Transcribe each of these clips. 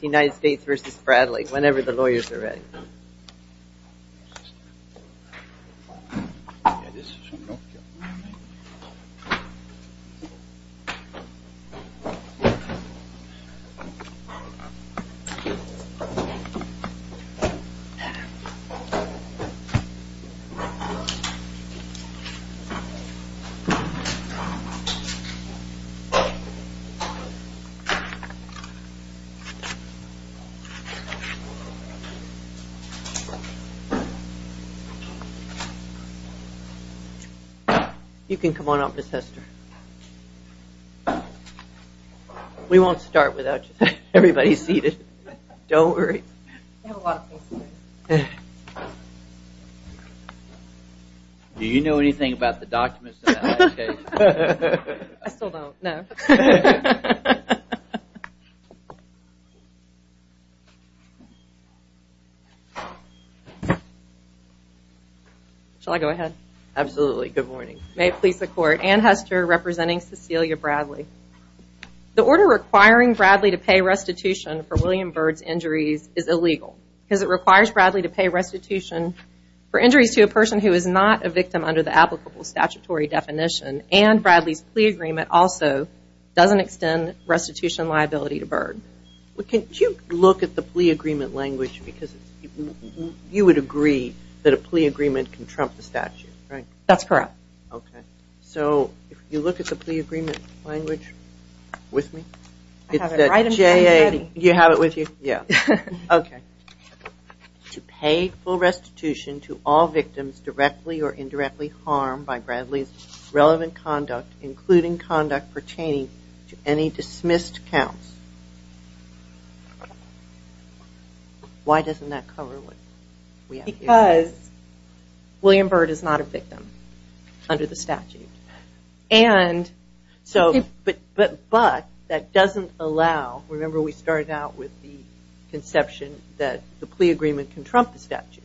United States v. Bradley, whenever the lawyers are ready. You can come on up, Ms. Hester. We won't start without everybody seated. Don't worry. I have a lot of things to say. Do you know anything about the documents? I still don't, no. Shall I go ahead? Absolutely, good morning. May it please the court, Anne Hester representing Cecelia Bradley. The order requiring Bradley to pay restitution for William Byrd's injuries is illegal. Because it requires Bradley to pay restitution for injuries to a person who is not a victim under the applicable statutory definition. And Bradley's plea agreement also doesn't extend restitution liability to Byrd. Can you look at the plea agreement language because you would agree that a plea agreement can trump the statute, right? That's correct. Okay, so if you look at the plea agreement language with me. I have it right in front of me. You have it with you? Yeah. To pay full restitution to all victims directly or indirectly harmed by Bradley's relevant conduct, including conduct pertaining to any dismissed counts. Why doesn't that cover what we have here? Because William Byrd is not a victim under the statute. But that doesn't allow, remember we started out with the conception that the plea agreement can trump the statute.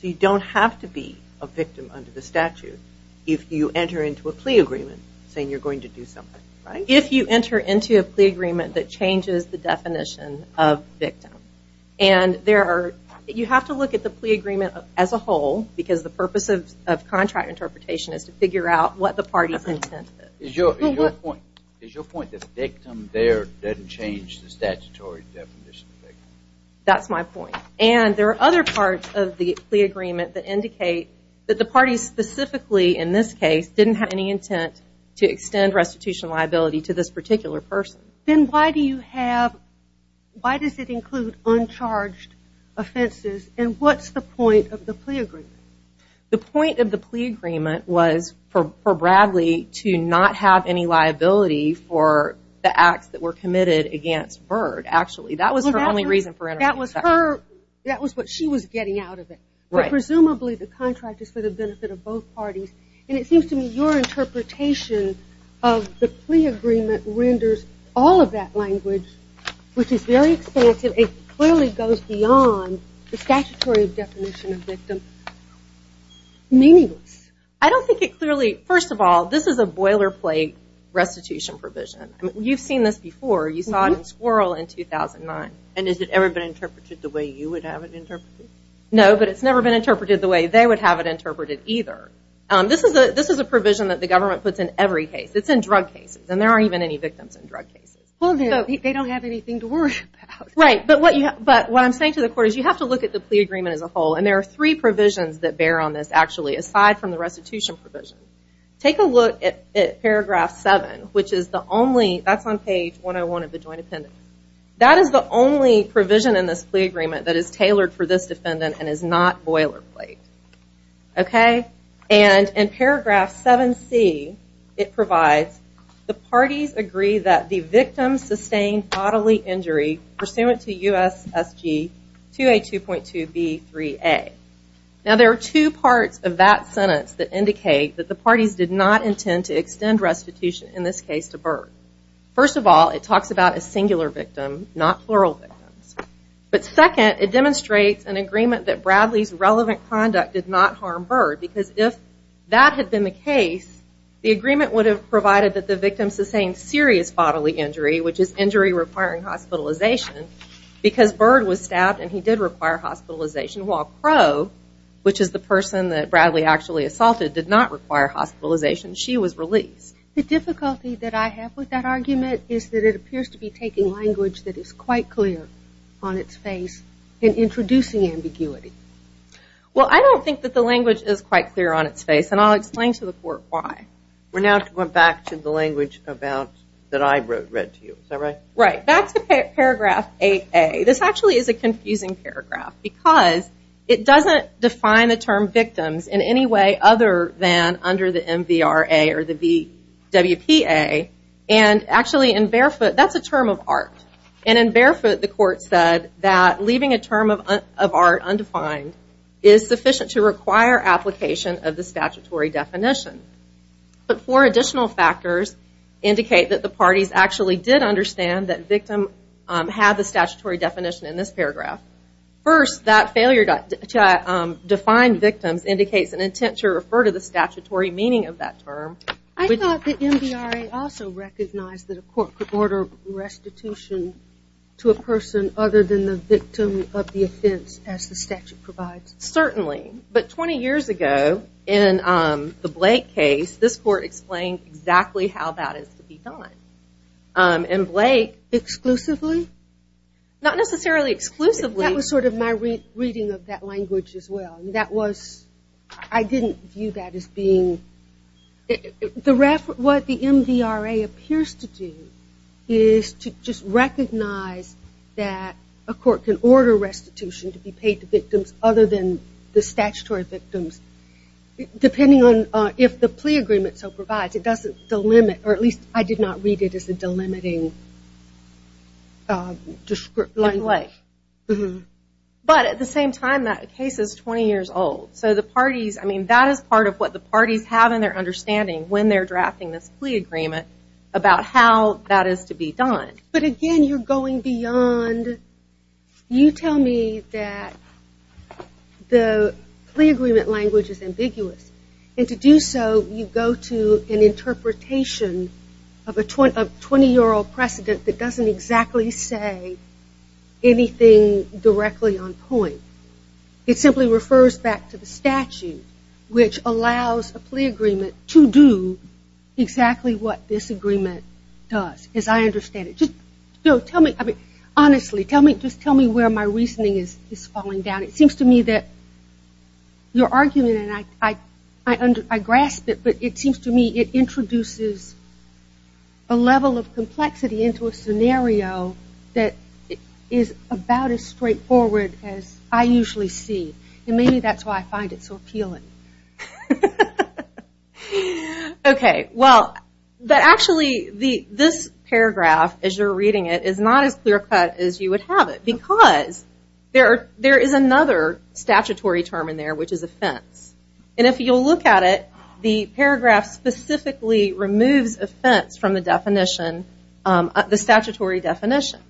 So you don't have to be a victim under the statute if you enter into a plea agreement saying you're going to do something. If you enter into a plea agreement that changes the definition of victim. And you have to look at the plea agreement as a whole because the purpose of contract interpretation is to figure out what the party's intent is. Is your point that the victim there doesn't change the statutory definition of victim? That's my point. And there are other parts of the plea agreement that indicate that the party specifically in this case didn't have any intent to extend restitution liability to this particular person. Then why do you have, why does it include uncharged offenses and what's the point of the plea agreement? The point of the plea agreement was for Bradley to not have any liability for the acts that were committed against Byrd. That was what she was getting out of it. Presumably the contract is for the benefit of both parties. And it seems to me your interpretation of the plea agreement renders all of that language, which is very expansive, it clearly goes beyond the statutory definition of victim, meaningless. I don't think it clearly, first of all, this is a boilerplate restitution provision. You've seen this before. You saw it in Squirrel in 2009. And has it ever been interpreted the way you would have it interpreted? No, but it's never been interpreted the way they would have it interpreted either. This is a provision that the government puts in every case. It's in drug cases. And there aren't even any victims in drug cases. Well, they don't have anything to worry about. Right. But what I'm saying to the court is you have to look at the plea agreement as a whole. And there are three provisions that bear on this, actually, aside from the restitution provision. Take a look at paragraph 7, which is the only, that's on page 101 of the joint appendix. That is the only provision in this plea agreement that is tailored for this defendant and is not boilerplate. Okay. And in paragraph 7C, it provides, the parties agree that the victim sustained bodily injury pursuant to U.S.S.G. 2A2.2B3A. Now, there are two parts of that sentence that indicate that the parties did not intend to extend restitution, in this case, to Byrd. First of all, it talks about a singular victim, not plural victims. But second, it demonstrates an agreement that Bradley's relevant conduct did not harm Byrd, because if that had been the case, the agreement would have provided that the victim sustained serious bodily injury, which is injury requiring hospitalization, because Byrd was stabbed and he did require hospitalization, while Crow, which is the person that Bradley actually assaulted, did not require hospitalization. She was released. The difficulty that I have with that argument is that it appears to be taking language that is quite clear on its face and introducing ambiguity. Well, I don't think that the language is quite clear on its face, and I'll explain to the court why. We're now to go back to the language about, that I read to you. Is that right? Right. Back to paragraph 8A. This actually is a confusing paragraph, because it doesn't define the term victims in any way other than under the MVRA or the VWPA. And actually, in barefoot, that's a term of art. And in barefoot, the court said that leaving a term of art undefined is sufficient to require application of the statutory definition. But four additional factors indicate that the parties actually did understand that victim had the statutory definition in this paragraph. First, that failure to define victims indicates an intent to refer to the statutory meaning of that term. I thought the MVRA also recognized that a court could order restitution to a person other than the victim of the offense, as the statute provides. Certainly. But 20 years ago, in the Blake case, this court explained exactly how that is to be done. And Blake exclusively? Not necessarily exclusively. That was sort of my reading of that language as well. That was, I didn't view that as being, what the MVRA appears to do is to just recognize that a court can order restitution to be paid to victims other than the statutory victims, depending on if the plea agreement so provides. It doesn't delimit, or at least I did not read it as a delimiting language. But at the same time, that case is 20 years old. So the parties, I mean, that is part of what the parties have in their understanding when they're drafting this plea agreement about how that is to be done. But again, you're going beyond, you tell me that the plea agreement language is ambiguous. And to do so, you go to an interpretation of a 20-year-old precedent that doesn't exactly say anything directly on point. It simply refers back to the statute, which allows a plea agreement to do exactly what this agreement does, as I understand it. Honestly, just tell me where my reasoning is falling down. It seems to me that your argument, and I grasp it, but it seems to me it introduces a level of complexity into a scenario that is about as straightforward as I usually see. And maybe that's why I find it so appealing. Okay, well, actually, this paragraph, as you're reading it, is not as clear cut as you would have it. Because there is another statutory term in there, which is offense. And if you'll look at it, the paragraph specifically removes offense from the statutory definition.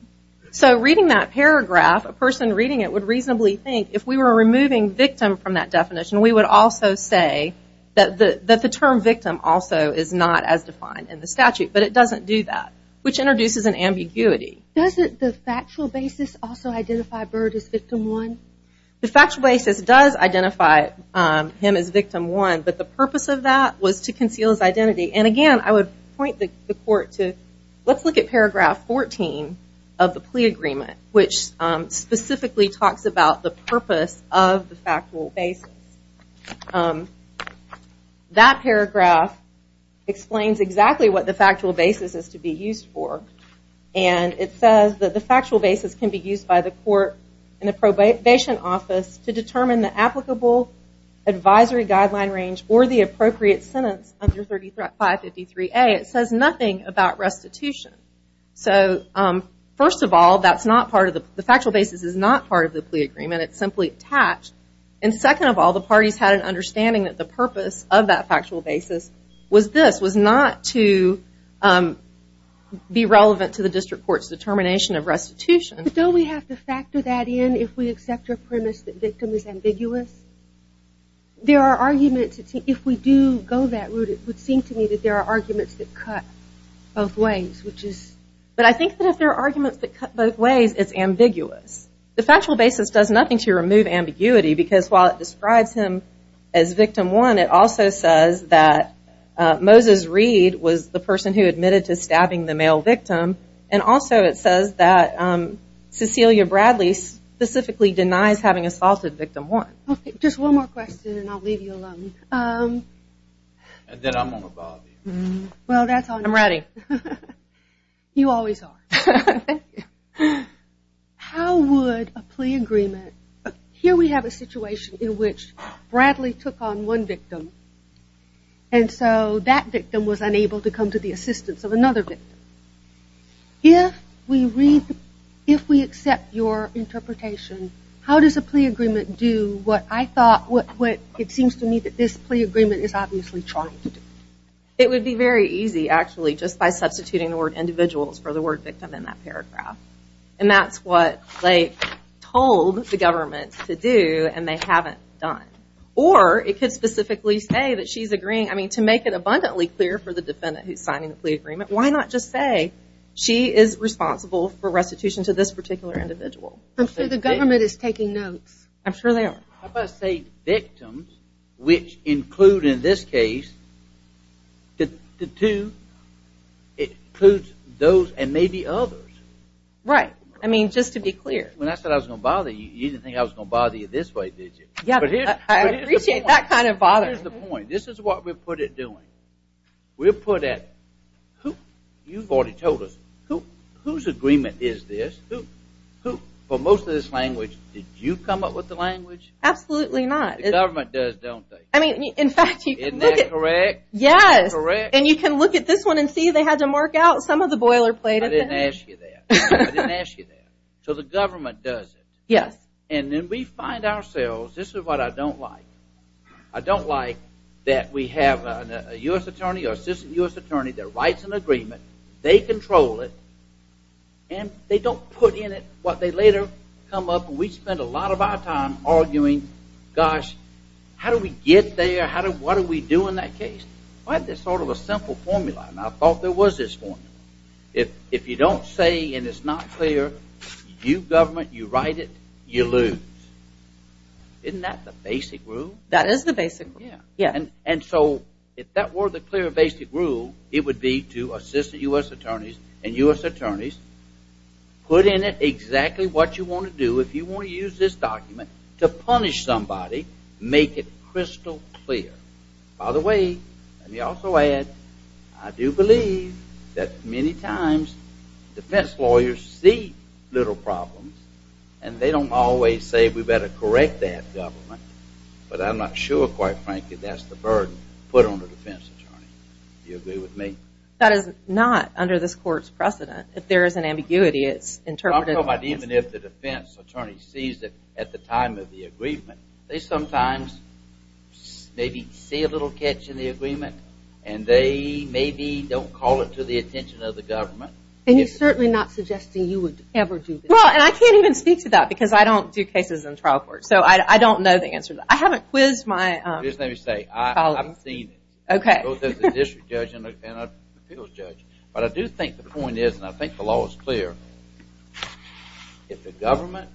So reading that paragraph, a person reading it would reasonably think if we were removing victim from that definition, we would also say that the term victim also is not as defined in the statute. But it doesn't do that, which introduces an ambiguity. Doesn't the factual basis also identify Byrd as victim one? The factual basis does identify him as victim one, but the purpose of that was to conceal his identity. And again, I would point the court to, let's look at paragraph 14 of the plea agreement, which specifically talks about the purpose of the factual basis. That paragraph explains exactly what the factual basis is to be used for. And it says that the factual basis can be used by the court and the probation office to determine the applicable advisory guideline range or the appropriate sentence under 3553A. It says nothing about restitution. So first of all, the factual basis is not part of the plea agreement. It's simply attached. And second of all, the parties had an understanding that the purpose of that factual basis was this, was not to be relevant to the district court's determination of restitution. But don't we have to factor that in if we accept your premise that victim is ambiguous? There are arguments, if we do go that route, it would seem to me that there are arguments that cut both ways. But I think that if there are arguments that cut both ways, it's ambiguous. The factual basis does nothing to remove ambiguity because while it describes him as victim one, it also says that Moses Reed was the person who admitted to stabbing the male victim. And also it says that Cecilia Bradley specifically denies having assaulted victim one. Okay, just one more question and I'll leave you alone. And then I'm going to bob you. I'm ready. You always are. How would a plea agreement, here we have a situation in which Bradley took on one victim and so that victim was unable to come to the assistance of another victim. If we read, if we accept your interpretation, how does a plea agreement do what I thought, what it seems to me that this plea agreement is obviously trying to do? It would be very easy actually just by substituting the word individuals for the word victim in that paragraph. And that's what they told the government to do and they haven't done. Or it could specifically say that she's agreeing, I mean to make it abundantly clear for the defendant who's signing the plea agreement, why not just say she is responsible for restitution to this particular individual? I'm sure the government is taking notes. I'm sure they are. How about say victims which include in this case the two, it includes those and maybe others. Right, I mean just to be clear. When I said I was going to bother you, you didn't think I was going to bother you this way, did you? Yeah, I appreciate that kind of bothering. Here's the point. This is what we're put at doing. We're put at, you've already told us, whose agreement is this? Who, for most of this language, did you come up with the language? Absolutely not. The government does, don't they? I mean, in fact, you can look at. Isn't that correct? Yes. Correct. And you can look at this one and see they had to mark out some of the boilerplate. I didn't ask you that. I didn't ask you that. So the government does it. Yes. And then we find ourselves, this is what I don't like. I don't like that we have a U.S. attorney or assistant U.S. attorney that writes an agreement. They control it. And they don't put in it what they later come up, and we spend a lot of our time arguing, gosh, how do we get there? What do we do in that case? Why is there sort of a simple formula? And I thought there was this formula. If you don't say and it's not clear, you government, you write it, you lose. Isn't that the basic rule? That is the basic rule. Yeah. And so if that were the clear basic rule, it would be to assistant U.S. attorneys and U.S. attorneys put in it exactly what you want to do. If you want to use this document to punish somebody, make it crystal clear. By the way, let me also add, I do believe that many times defense lawyers see little problems, and they don't always say we better correct that government. But I'm not sure, quite frankly, that's the burden put on the defense attorney. Do you agree with me? That is not under this court's precedent. If there is an ambiguity, it's interpreted. Even if the defense attorney sees it at the time of the agreement, they sometimes maybe see a little catch in the agreement, and they maybe don't call it to the attention of the government. And he's certainly not suggesting you would ever do this. Well, and I can't even speak to that because I don't do cases in trial court. So I don't know the answer. I haven't quizzed my colleagues. Just let me say, I've seen it. Okay. Both as a district judge and an appeals judge. But I do think the point is, and I think the law is clear, if the government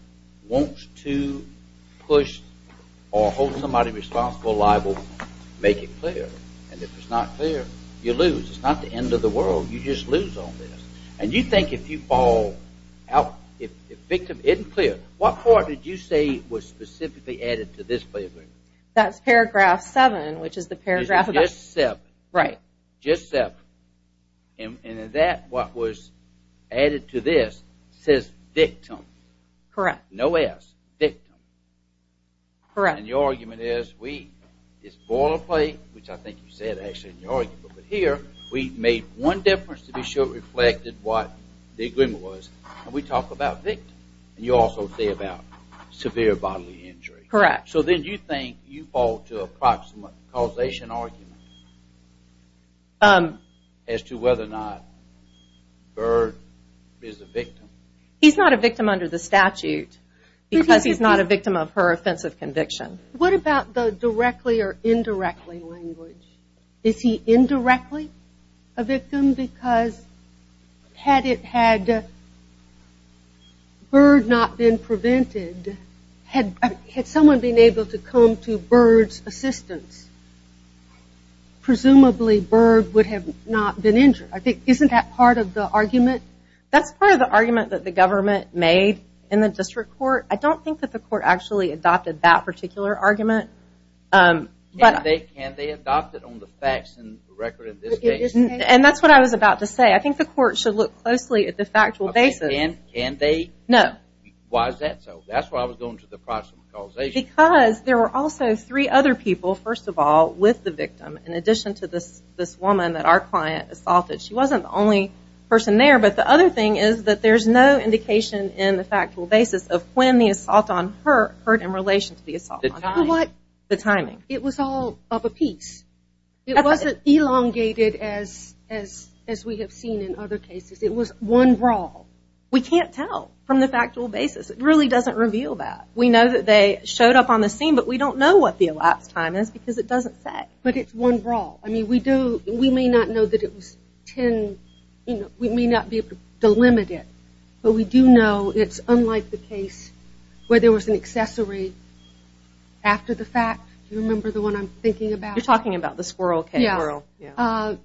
wants to push or hold somebody responsible liable, make it clear. And if it's not clear, you lose. It's not the end of the world. You just lose on this. And you think if you fall out, if the victim isn't clear. What part did you say was specifically added to this plea agreement? That's paragraph 7, which is the paragraph about... Is it just 7? Right. Just 7. And in that, what was added to this says victim. Correct. No S. Victim. Correct. And your argument is we, it's boilerplate, which I think you said actually in your argument. But here, we made one difference to be sure it reflected what the agreement was. And we talk about victim. And you also say about severe bodily injury. Correct. So then you think you fall to a causation argument as to whether or not Bird is a victim. He's not a victim under the statute because he's not a victim of her offensive conviction. What about the directly or indirectly language? Is he indirectly a victim because had Bird not been prevented, had someone been able to come to Bird's assistance, presumably Bird would have not been injured. Isn't that part of the argument? That's part of the argument that the government made in the district court. I don't think that the court actually adopted that particular argument. Can they adopt it on the facts and record of this case? And that's what I was about to say. I think the court should look closely at the factual basis. Can they? No. Why is that so? That's why I was going to the proximal causation. Because there were also three other people, first of all, with the victim, in addition to this woman that our client assaulted. She wasn't the only person there. But the other thing is that there's no indication in the factual basis of when the assault on her occurred in relation to the assault on him. The timing. The timing. It was all of a piece. It wasn't elongated as we have seen in other cases. It was one brawl. We can't tell from the factual basis. It really doesn't reveal that. We know that they showed up on the scene, but we don't know what the elapsed time is because it doesn't say. But it's one brawl. I mean, we may not know that it was 10. We may not be able to delimit it. But we do know it's unlike the case where there was an accessory after the fact. Do you remember the one I'm thinking about? You're talking about the Squirrel K. Squirrel. Yeah.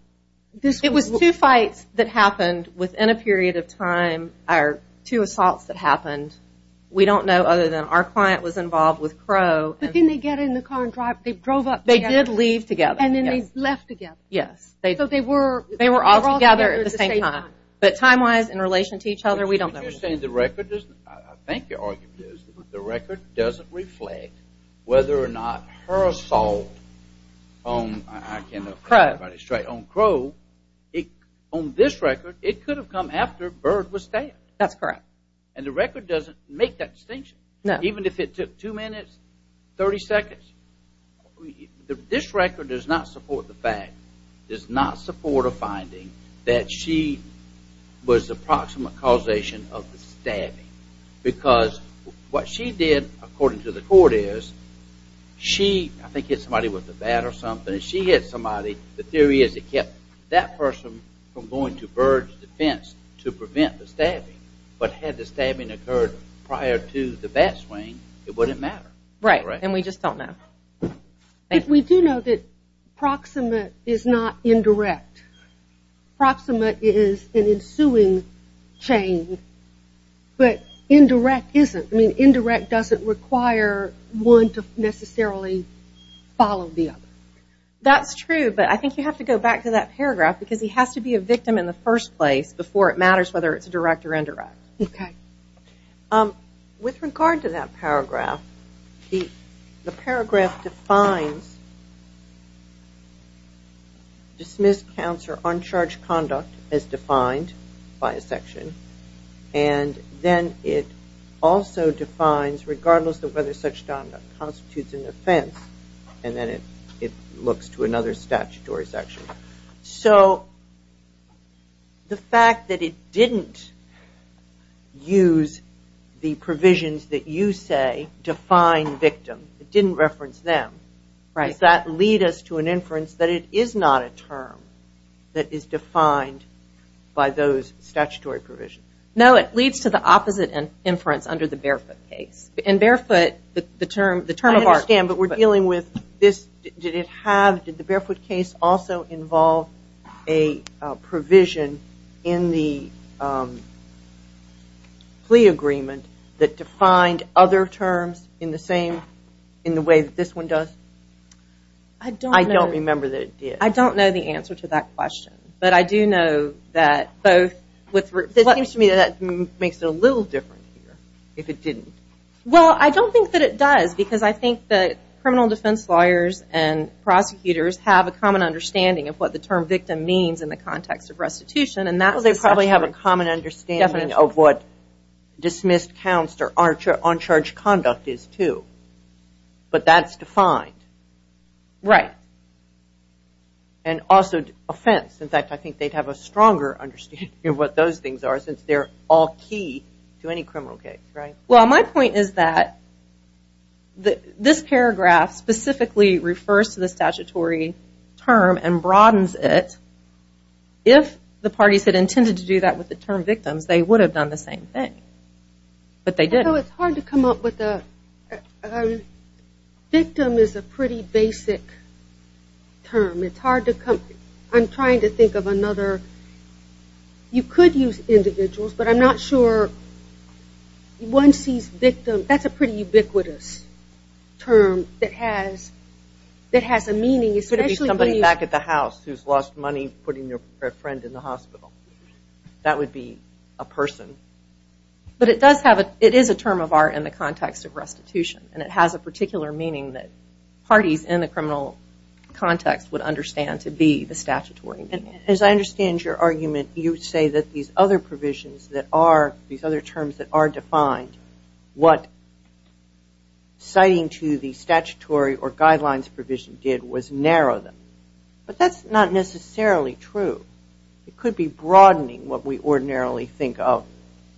It was two fights that happened within a period of time, or two assaults that happened. We don't know other than our client was involved with Crow. But then they get in the car and drive. They drove up together. They did leave together. And then they left together. Yes. So they were all together at the same time. But time-wise, in relation to each other, we don't know. I think your argument is that the record doesn't reflect whether or not her assault on Crow on this record, it could have come after Bird was stabbed. That's correct. And the record doesn't make that distinction. No. Even if it took two minutes, 30 seconds. This record does not support the fact, does not support a finding, that she was the proximate causation of the stabbing. Because what she did, according to the court, is she, I think, hit somebody with a bat or something. When she hit somebody, the theory is it kept that person from going to Bird's defense to prevent the stabbing. But had the stabbing occurred prior to the bat swing, it wouldn't matter. Right. And we just don't know. We do know that proximate is not indirect. Proximate is an ensuing chain. But indirect isn't. I mean, indirect doesn't require one to necessarily follow the other. That's true. But I think you have to go back to that paragraph because he has to be a victim in the first place before it matters whether it's direct or indirect. Okay. With regard to that paragraph, the paragraph defines dismissed counts or uncharged conduct as defined by a section. And then it also defines, regardless of whether such conduct constitutes an offense, and then it looks to another statutory section. So the fact that it didn't use the provisions that you say define victim, it didn't reference them, does that lead us to an inference that it is not a term that is defined by those statutory provisions? No, it leads to the opposite inference under the Barefoot case. In Barefoot, the term of art. I understand, but we're dealing with this. Did it have, did the Barefoot case also involve a provision in the plea agreement that defined other terms in the same, in the way that this one does? I don't know. I don't remember that it did. I don't know the answer to that question. But I do know that both with. It seems to me that makes it a little different here if it didn't. Well, I don't think that it does because I think that criminal defense lawyers and prosecutors have a common understanding of what the term victim means in the context of restitution. They probably have a common understanding of what dismissed counts or uncharged conduct is too. But that's defined. Right. And also offense. In fact, I think they'd have a stronger understanding of what those things are since they're all key to any criminal case, right? Well, my point is that this paragraph specifically refers to the statutory term and broadens it. If the parties had intended to do that with the term victims, they would have done the same thing. But they didn't. So it's hard to come up with a – victim is a pretty basic term. It's hard to come – I'm trying to think of another. You could use individuals, but I'm not sure one sees victim. That's a pretty ubiquitous term that has a meaning. It could be somebody back at the house who's lost money putting their friend in the hospital. That would be a person. But it does have a – it is a term of art in the context of restitution, and it has a particular meaning that parties in the criminal context would understand to be the statutory meaning. As I understand your argument, you say that these other provisions that are – these other terms that are defined, what citing to the statutory or guidelines provision did was narrow them. But that's not necessarily true. It could be broadening what we ordinarily think of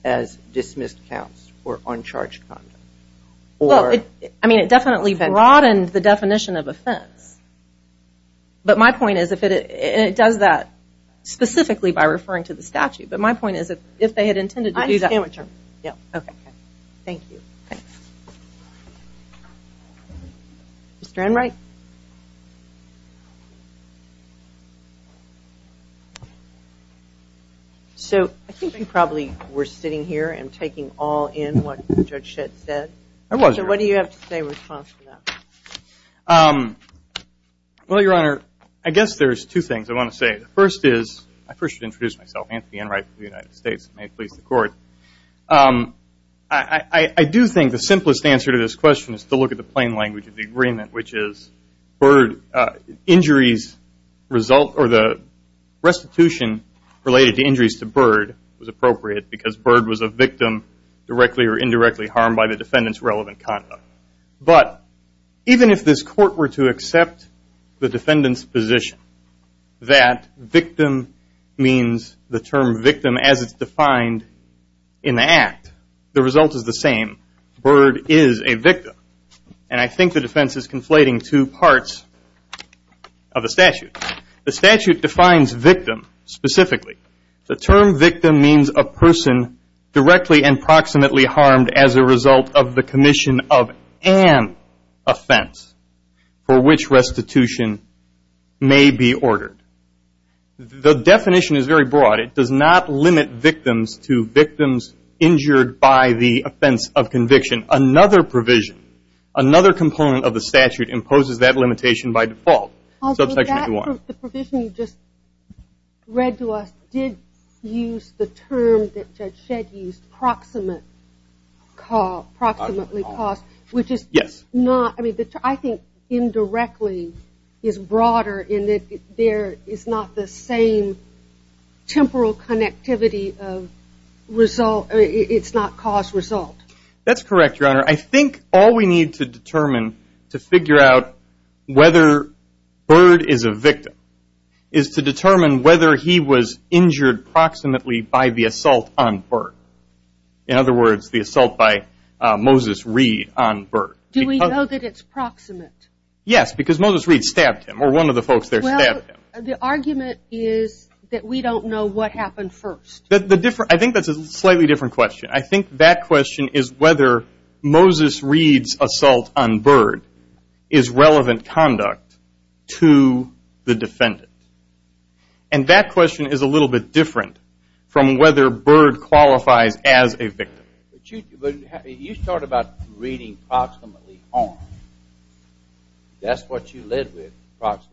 as dismissed counts or uncharged conduct. Well, I mean, it definitely broadened the definition of offense. But my point is if it – and it does that specifically by referring to the statute. But my point is if they had intended to do that. Okay. Thank you. Thanks. Mr. Enright? So I think we probably were sitting here and taking all in what Judge Schitt said. I wasn't. So what do you have to say in response to that? Well, Your Honor, I guess there's two things I want to say. The first is – I first should introduce myself. Anthony Enright from the United States. May it please the Court. I do think the simplest answer to this question is to look at the plain language of the agreement, which is injuries result or the restitution related to injuries to Byrd was appropriate because Byrd was a victim directly or indirectly harmed by the defendant's relevant conduct. But even if this Court were to accept the defendant's position that victim means the term victim as it's defined in the act, the result is the same. Byrd is a victim. And I think the defense is conflating two parts of the statute. The statute defines victim specifically. The term victim means a person directly and proximately harmed as a result of the commission of an offense for which restitution may be ordered. The definition is very broad. It does not limit victims to victims injured by the offense of conviction. Another provision, another component of the statute imposes that limitation by default. Also, the provision you just read to us did use the term that Judge Shedd used, proximately caused, which is not – I think indirectly is broader in that there is not the same temporal connectivity of result. It's not cause-result. That's correct, Your Honor. I think all we need to determine to figure out whether Byrd is a victim is to determine whether he was injured proximately by the assault on Byrd. In other words, the assault by Moses Reed on Byrd. Do we know that it's proximate? Yes, because Moses Reed stabbed him or one of the folks there stabbed him. Well, the argument is that we don't know what happened first. I think that's a slightly different question. I think that question is whether Moses Reed's assault on Byrd is relevant conduct to the defendant. And that question is a little bit different from whether Byrd qualifies as a victim. You start about reading proximately harmed. That's what you live with.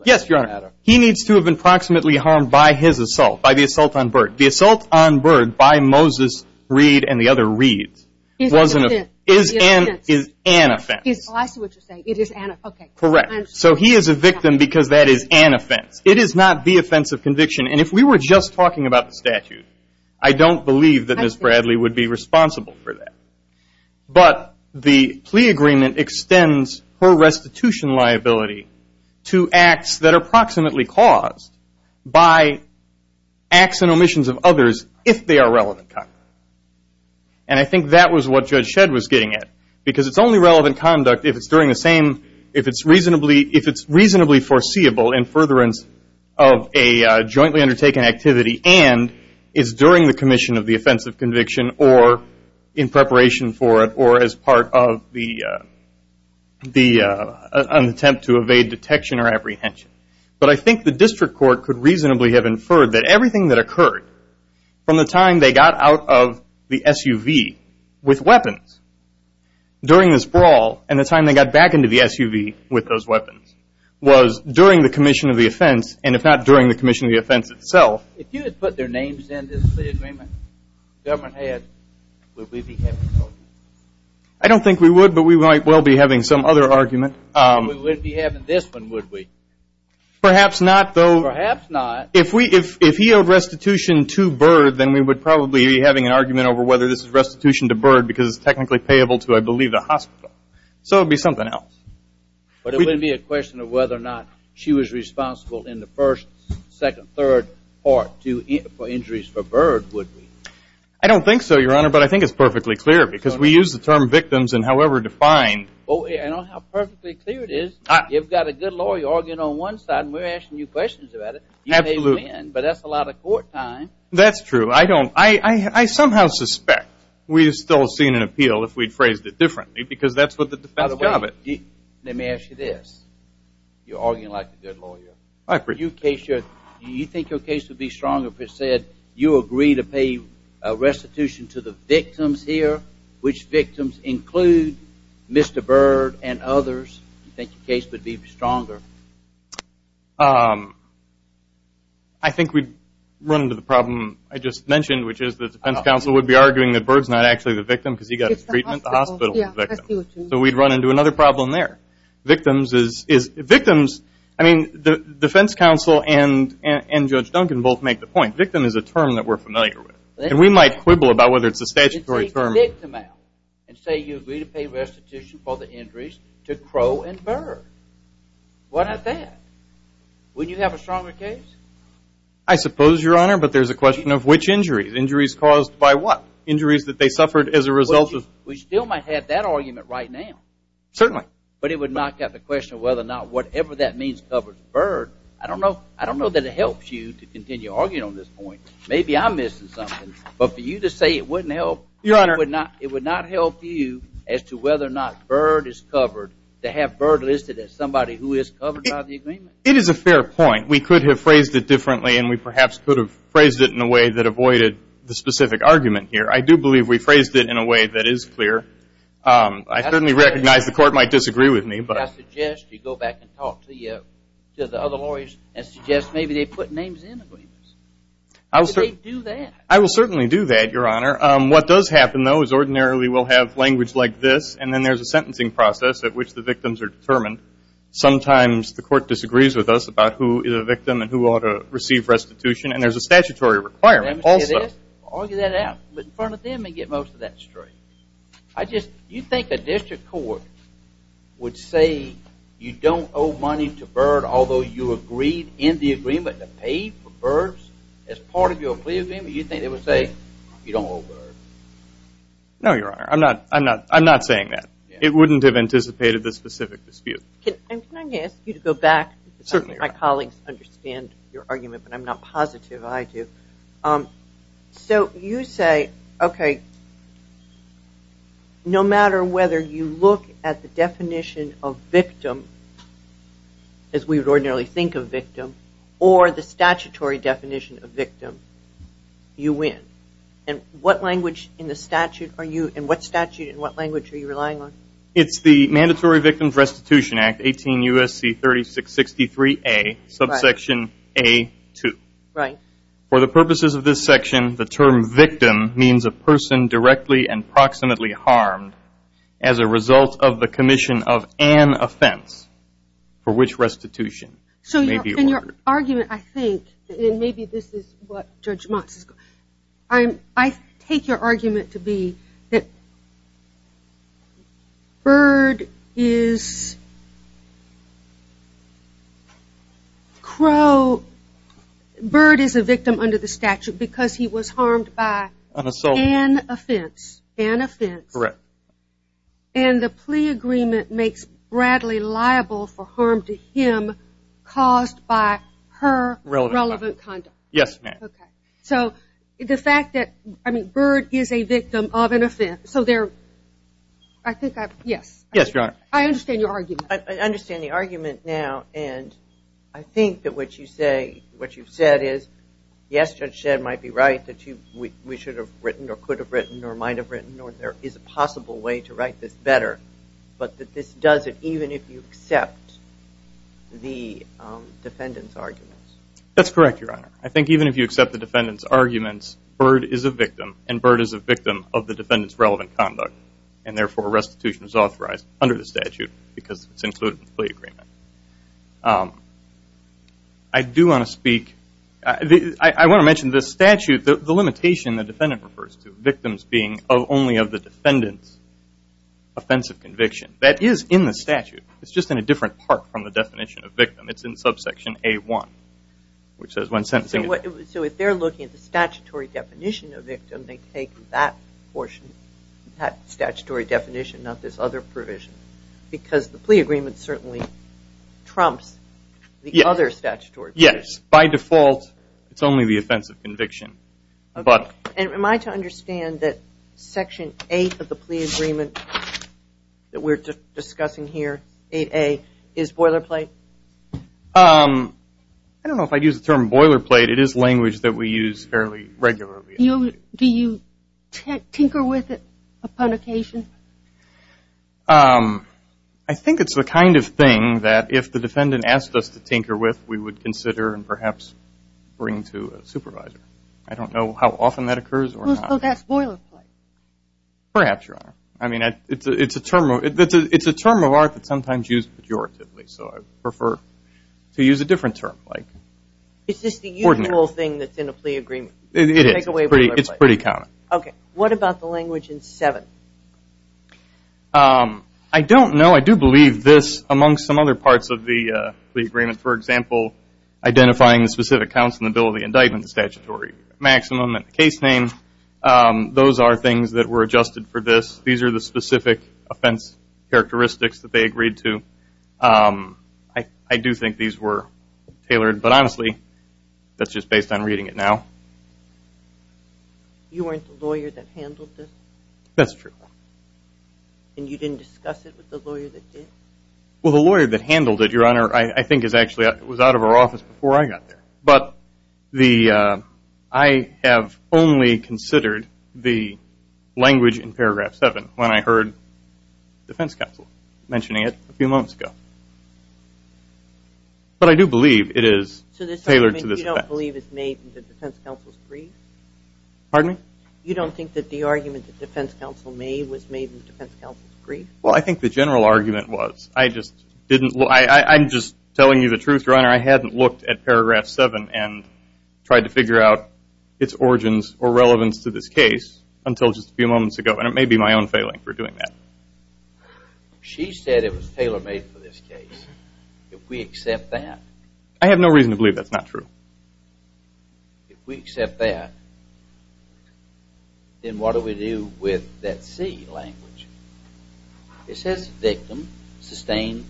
Yes, Your Honor. He needs to have been proximately harmed by his assault, by the assault on Byrd. The assault on Byrd by Moses Reed and the other Reeds is an offense. I see what you're saying. It is an offense. Correct. So he is a victim because that is an offense. It is not the offense of conviction. And if we were just talking about the statute, I don't believe that Ms. Bradley would be responsible for that. But the plea agreement extends her restitution liability to acts that are proximately caused by acts and omissions of others if they are relevant conduct. And I think that was what Judge Shedd was getting at. Because it's only relevant conduct if it's reasonably foreseeable in that it's during the commission of the offense of conviction or in preparation for it or as part of an attempt to evade detection or apprehension. But I think the district court could reasonably have inferred that everything that occurred from the time they got out of the SUV with weapons during this brawl and the time they got back into the SUV with those weapons was during the commission of the offense, and if not during the commission of the offense itself. If you had put their names in this plea agreement the government had, would we be having those? I don't think we would, but we might well be having some other argument. We wouldn't be having this one, would we? Perhaps not, though. Perhaps not. If he owed restitution to Byrd, then we would probably be having an argument over whether this is restitution to Byrd because it's technically payable to, I believe, the hospital. So it would be something else. But it wouldn't be a question of whether or not she was responsible in the first, second, third part for injuries for Byrd, would we? I don't think so, Your Honor, but I think it's perfectly clear because we use the term victims in however defined. Well, you know how perfectly clear it is? You've got a good lawyer arguing on one side and we're asking you questions about it. You may win, but that's a lot of court time. That's true. I somehow suspect we've still seen an appeal if we'd phrased it differently because that's what the defense job is. Let me ask you this. You're arguing like a good lawyer. Do you think your case would be stronger if it said, you agree to pay restitution to the victims here, which victims include Mr. Byrd and others? Do you think your case would be stronger? I think we'd run into the problem I just mentioned, which is the defense counsel would be arguing that Byrd's not actually the victim because he got his treatment at the hospital. So we'd run into another problem there. Victims, I mean, the defense counsel and Judge Duncan both make the point. Victim is a term that we're familiar with, and we might quibble about whether it's a statutory term. Take the victim out and say you agree to pay restitution for the injuries to Crow and Byrd. Why not that? Wouldn't you have a stronger case? I suppose, Your Honor, but there's a question of which injuries. Injuries caused by what? Injuries that they suffered as a result of? We still might have that argument right now. Certainly. But it would knock out the question of whether or not whatever that means covers Byrd. I don't know that it helps you to continue arguing on this point. Maybe I'm missing something. But for you to say it wouldn't help, it would not help you as to whether or not Byrd is covered to have Byrd listed as somebody who is covered by the agreement. It is a fair point. We could have phrased it differently, and we perhaps could have phrased it in a way that avoided the specific argument here. I do believe we phrased it in a way that is clear. I certainly recognize the court might disagree with me. I suggest you go back and talk to the other lawyers and suggest maybe they put names in agreements. I will certainly do that, Your Honor. What does happen, though, is ordinarily we'll have language like this, and then there's a sentencing process at which the victims are determined. Sometimes the court disagrees with us about who is a victim and who ought to receive restitution, and there's a statutory requirement also. Argue that out in front of them and get most of that straight. Do you think a district court would say you don't owe money to Byrd, although you agreed in the agreement to pay for Byrd as part of your plea agreement? Do you think they would say you don't owe Byrd? No, Your Honor. I'm not saying that. It wouldn't have anticipated the specific dispute. Can I ask you to go back? Certainly. My colleagues understand your argument, but I'm not positive I do. So you say, okay, no matter whether you look at the definition of victim, as we would ordinarily think of victim, or the statutory definition of victim, you win. And what language in the statute are you and what statute and what language are you relying on? It's the Mandatory Victims Restitution Act, 18 U.S.C. 3663A, subsection A2. Right. For the purposes of this section, the term victim means a person directly and proximately harmed as a result of the commission of an offense for which restitution may be ordered. So in your argument, I think, and maybe this is what Judge Motz is going, I take your argument to be that Bird is Crow, Bird is a victim under the statute because he was harmed by an offense. An offense. Correct. And the plea agreement makes Bradley liable for harm to him caused by her relevant conduct. Yes, ma'am. Okay. So the fact that, I mean, Bird is a victim of an offense. So there, I think I've, yes. Yes, Your Honor. I understand your argument. I understand the argument now, and I think that what you've said is, yes, Judge Shedd might be right, that we should have written or could have written or might have written or there is a possible way to write this better, but that this doesn't, even if you accept the defendant's arguments. That's correct, Your Honor. I think even if you accept the defendant's arguments, Bird is a victim, and Bird is a victim of the defendant's relevant conduct, and therefore restitution is authorized under the statute because it's included in the plea agreement. I do want to speak, I want to mention the statute, the limitation the defendant refers to, victims being only of the defendant's offensive conviction. That is in the statute. It's just in a different part from the definition of victim. It's in subsection A1, which says when sentencing. So if they're looking at the statutory definition of victim, they take that portion, that statutory definition, not this other provision, because the plea agreement certainly trumps the other statutory. Yes. By default, it's only the offensive conviction, but. Am I to understand that section 8 of the plea agreement that we're discussing here, 8A, is boilerplate? I don't know if I'd use the term boilerplate. It is language that we use fairly regularly. Do you tinker with it upon occasion? I think it's the kind of thing that if the defendant asked us to tinker with, we would consider and perhaps bring to a supervisor. I don't know how often that occurs or not. Well, so that's boilerplate. Perhaps, Your Honor. I mean, it's a term of art that's sometimes used pejoratively, so I prefer to use a different term. Is this the usual thing that's in a plea agreement? It is. Take away boilerplate. It's pretty common. Okay. What about the language in 7? I don't know. I do believe this, amongst some other parts of the plea agreement, for example, identifying the specific counts in the Bill of the Indictment, the statutory maximum and the case name, those are things that were adjusted for this. These are the specific offense characteristics that they agreed to. I do think these were tailored, but honestly, that's just based on reading it now. You weren't the lawyer that handled this? That's true. And you didn't discuss it with the lawyer that did? Well, the lawyer that handled it, Your Honor, I think, was out of our office before I got there. But I have only considered the language in paragraph 7 when I heard the defense counsel mentioning it a few moments ago. But I do believe it is tailored to this offense. So this argument you don't believe is made in the defense counsel's brief? Pardon me? You don't think that the argument that the defense counsel made was made in the defense counsel's brief? Well, I think the general argument was. I'm just telling you the truth, Your Honor. I hadn't looked at paragraph 7 and tried to figure out its origins or relevance to this case until just a few moments ago, and it may be my own failing for doing that. She said it was tailor-made for this case. If we accept that. I have no reason to believe that's not true. If we accept that, then what do we do with that C language? It says victim sustained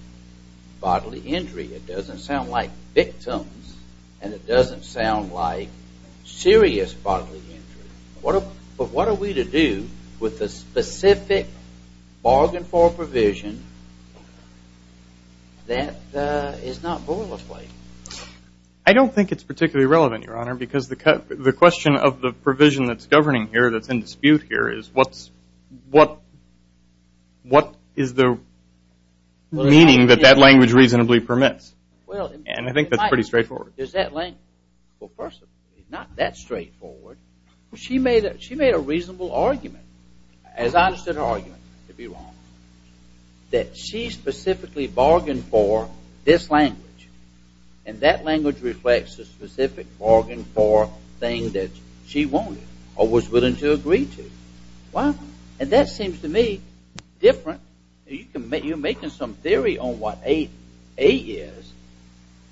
bodily injury. It doesn't sound like victims, and it doesn't sound like serious bodily injury. But what are we to do with the specific bargain for provision that is not boilerplate? I don't think it's particularly relevant, Your Honor, because the question of the provision that's governing here that's in dispute here is what is the meaning that that language reasonably permits, and I think that's pretty straightforward. Well, first of all, it's not that straightforward. She made a reasonable argument, as honest in her argument, to be wrong, that she specifically bargained for this language, and that language reflects the specific bargain for thing that she wanted or was willing to agree to. Well, that seems to me different. You're making some theory on what A is,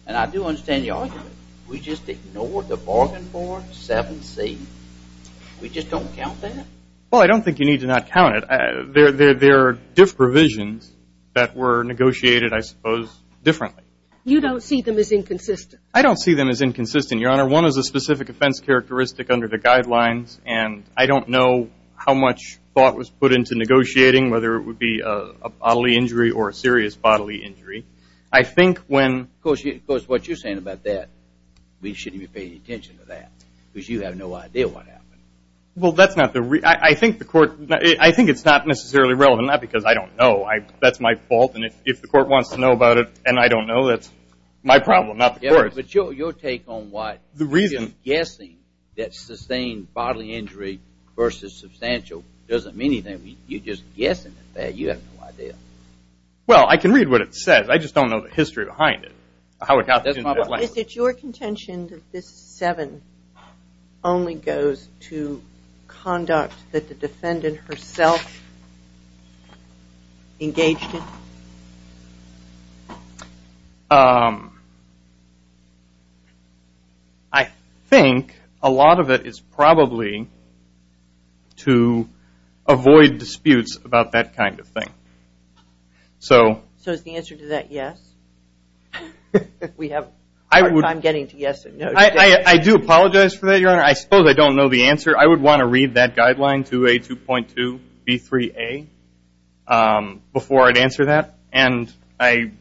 and I do understand your argument. We just ignore the bargain for 7C. We just don't count that? Well, I don't think you need to not count it. There are different provisions that were negotiated, I suppose, differently. You don't see them as inconsistent? I don't see them as inconsistent, Your Honor. One is a specific offense characteristic under the guidelines, and I don't know how much thought was put into negotiating, whether it would be a bodily injury or a serious bodily injury. Of course, what you're saying about that, we shouldn't be paying attention to that because you have no idea what happened. Well, that's not the reason. I think it's not necessarily relevant, not because I don't know. That's my fault, and if the court wants to know about it and I don't know, that's my problem, not the court's. But your take on what you're guessing that sustained bodily injury versus substantial doesn't mean anything. You're just guessing at that. You have no idea. Well, I can read what it says. I just don't know the history behind it, how it happens in that language. Is it your contention that this 7 only goes to conduct that the defendant herself engaged in? I think a lot of it is probably to avoid disputes about that kind of thing. So is the answer to that yes? We have a hard time getting to yes. I do apologize for that, Your Honor. I suppose I don't know the answer. I would want to read that guideline 2A2.2B3A before I'd answer that, and I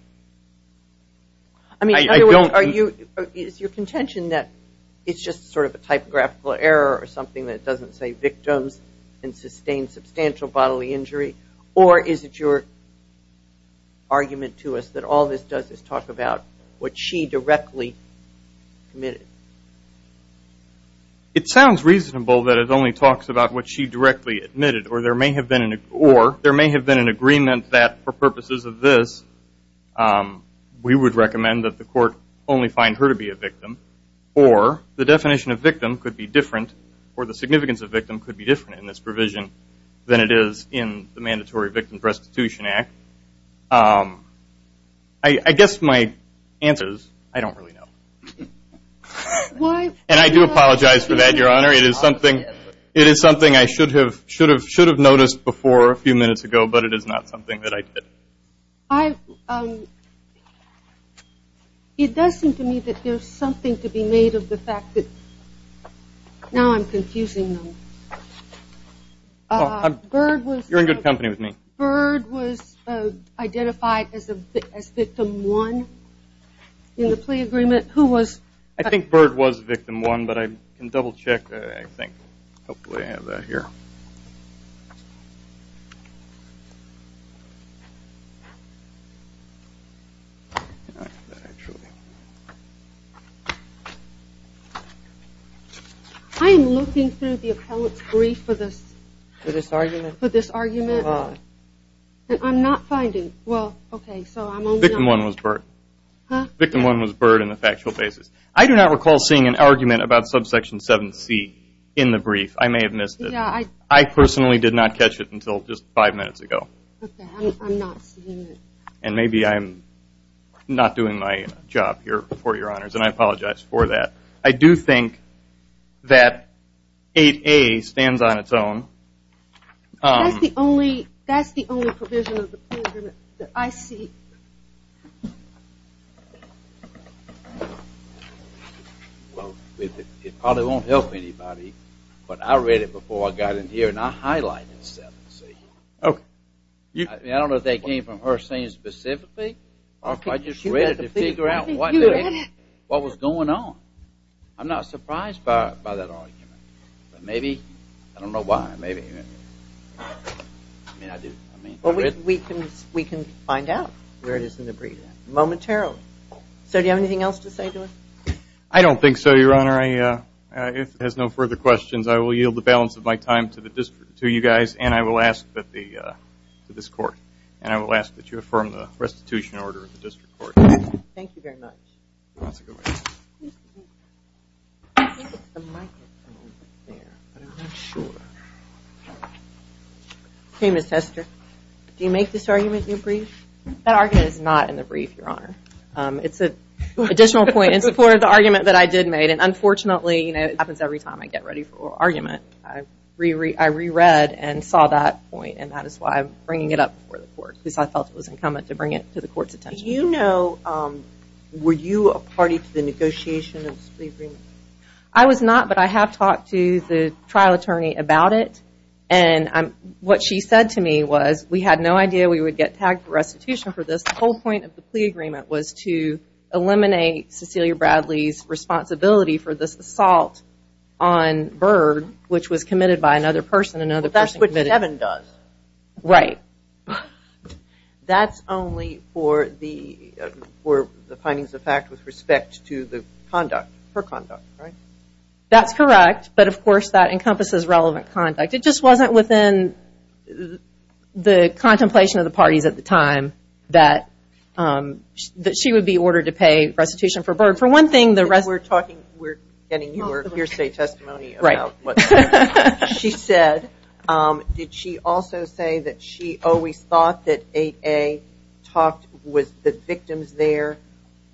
don't. Is your contention that it's just sort of a typographical error or something that doesn't say victims and sustained substantial bodily injury, or is it your argument to us that all this does is talk about what she directly committed? It sounds reasonable that it only talks about what she directly admitted, or there may have been an agreement that, for purposes of this, we would recommend that the court only find her to be a victim, or the definition of victim could be different, or the significance of victim could be different in this provision than it is in the Mandatory Victims Restitution Act. I guess my answer is I don't really know. And I do apologize for that, Your Honor. It is something I should have noticed before a few minutes ago, but it is not something that I did. It does seem to me that there's something to be made of the fact that, now I'm confusing them. You're in good company with me. Bird was identified as victim one in the plea agreement. Who was? I think Bird was victim one, but I can double-check, I think. Hopefully I have that here. I am looking through the appellate's brief for this argument, and I'm not finding, well, okay. Victim one was Bird. Victim one was Bird on a factual basis. I do not recall seeing an argument about subsection 7C in the brief. I may have missed it. I personally did not catch it until just five minutes ago. I'm not seeing it. And maybe I'm not doing my job here before your honors, and I apologize for that. I do think that 8A stands on its own. That's the only provision of the plea agreement that I see. It probably won't help anybody, but I read it before I got in here, and I highlighted 7C. I don't know if that came from her saying specifically, or if I just read it to figure out what was going on. I'm not surprised by that argument. But maybe, I don't know why, maybe. We can find out where it is in the brief momentarily. Sir, do you have anything else to say to us? I don't think so, your honor. If it has no further questions, I will yield the balance of my time to you guys, and I will ask that you affirm the restitution order of the district court. Thank you very much. Ms. Hester, do you make this argument in the brief? That argument is not in the brief, your honor. It's an additional point in support of the argument that I did make. Unfortunately, it happens every time I get ready for an argument. I reread and saw that point, and that is why I'm bringing it up before the court, because I felt it was incumbent to bring it to the court's attention. Were you a party to the negotiation of this plea agreement? I was not, but I have talked to the trial attorney about it, and what she said to me was, we had no idea we would get tagged for restitution for this. The whole point of the plea agreement was to eliminate Cecilia Bradley's responsibility for this assault on Byrd, which was committed by another person. That's what Devin does. Right. That's only for the findings of fact with respect to her conduct, right? That's correct, but of course that encompasses relevant conduct. It just wasn't within the contemplation of the parties at the time that she would be ordered to pay restitution for Byrd. We're getting your hearsay testimony about what she said. Did she also say that she always thought that 8A, the victims there,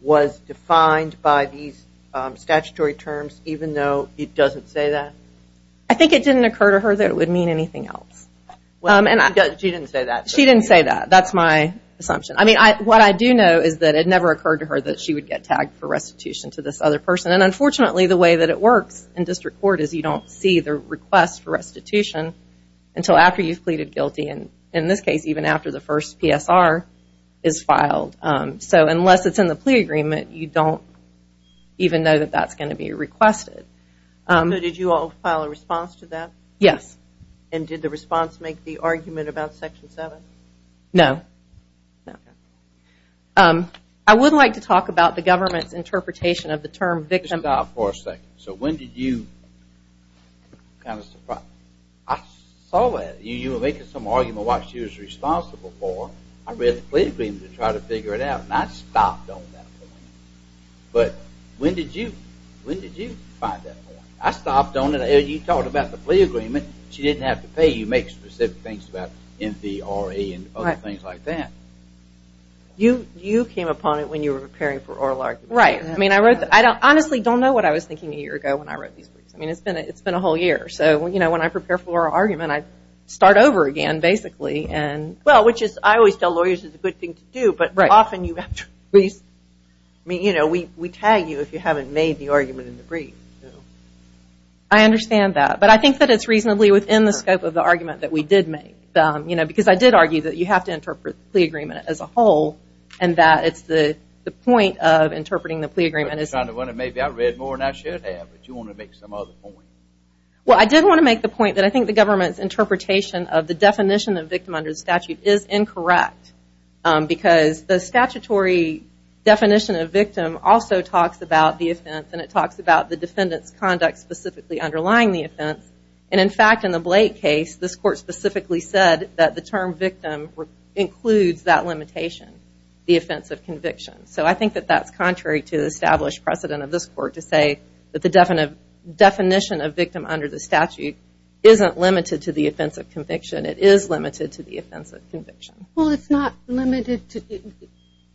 was defined by these statutory terms, even though it doesn't say that? I think it didn't occur to her that it would mean anything else. She didn't say that. She didn't say that. That's my assumption. What I do know is that it never occurred to her that she would get tagged for restitution to this other person. Unfortunately, the way that it works in district court is you don't see the request for restitution until after you've pleaded guilty. In this case, even after the first PSR is filed. Unless it's in the plea agreement, you don't even know that that's going to be requested. Did you all file a response to that? Yes. And did the response make the argument about Section 7? No. Okay. I would like to talk about the government's interpretation of the term victim. Just stop for a second. So when did you... I'm kind of surprised. I saw that. You were making some argument about what she was responsible for. I read the plea agreement to try to figure it out, and I stopped on that point. But when did you find that point? I stopped on it. You talked about the plea agreement. She didn't have to pay. You make specific things about MVRA and other things like that. You came upon it when you were preparing for oral argument. Right. I mean, I wrote the... I honestly don't know what I was thinking a year ago when I wrote these briefs. I mean, it's been a whole year. So, you know, when I prepare for oral argument, I start over again, basically. Well, which is, I always tell lawyers it's a good thing to do, but often you have to... I mean, you know, we tag you if you haven't made the argument in the brief. I understand that. But I think that it's reasonably within the scope of the argument that we did make. You know, because I did argue that you have to interpret the plea agreement as a whole and that it's the point of interpreting the plea agreement is... Maybe I read more than I should have, but you want to make some other point. Well, I did want to make the point that I think the government's interpretation of the definition of victim under the statute is incorrect because the statutory definition of victim also talks about the offense and it talks about the defendant's conduct specifically underlying the offense. And in fact, in the Blake case, this court specifically said that the term victim includes that limitation, the offense of conviction. So I think that that's contrary to the established precedent of this court to say that the definition of victim under the statute isn't limited to the offense of conviction. It is limited to the offense of conviction. Well, it's not limited to...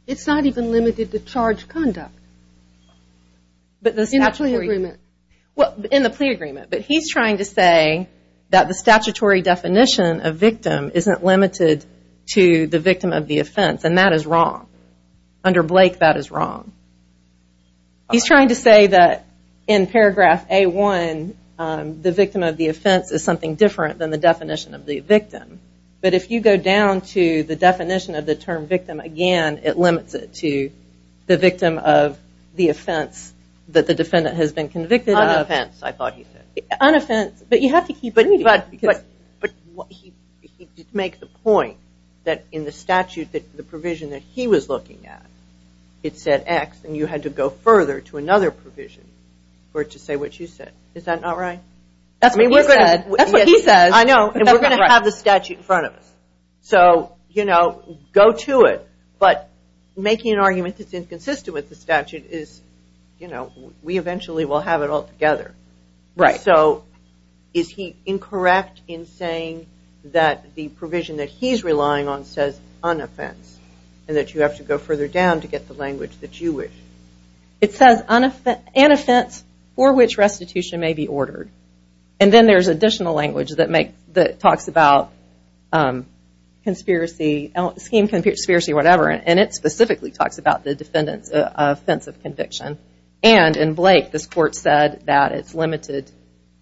It's not even limited to charge conduct. In the plea agreement. Well, in the plea agreement, but he's trying to say that the statutory definition of victim isn't limited to the victim of the offense, and that is wrong. Under Blake, that is wrong. He's trying to say that in paragraph A-1, the victim of the offense is something different than the definition of the victim. But if you go down to the definition of the term victim again, it limits it to the victim of the offense that the defendant has been convicted of. On offense, I thought he said. On offense, but you have to keep reading it. But he did make the point that in the statute, the provision that he was looking at, it said X, and you had to go further to another provision for it to say what you said. Is that not right? That's what he said. That's what he said. I know, and we're going to have the statute in front of us. So, you know, go to it, but making an argument that's inconsistent with the statute is, you know, we eventually will have it all together. Right. So, is he incorrect in saying that the provision that he's relying on says on offense, and that you have to go further down to get the language that you wish? It says an offense for which restitution may be ordered, and then there's additional language that talks about conspiracy, scheme conspiracy, whatever, and it specifically talks about the defendant's offense of conviction. And in Blake, this court said that it's limited,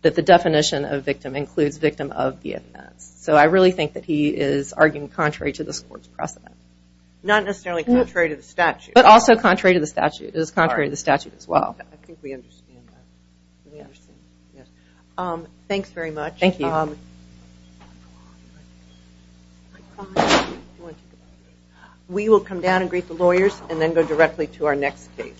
that the definition of victim includes victim of the offense. So I really think that he is arguing contrary to this court's precedent. Not necessarily contrary to the statute. But also contrary to the statute. It is contrary to the statute as well. I think we understand that. Thanks very much. Thank you. We will come down and greet the lawyers, and then go directly to our next case.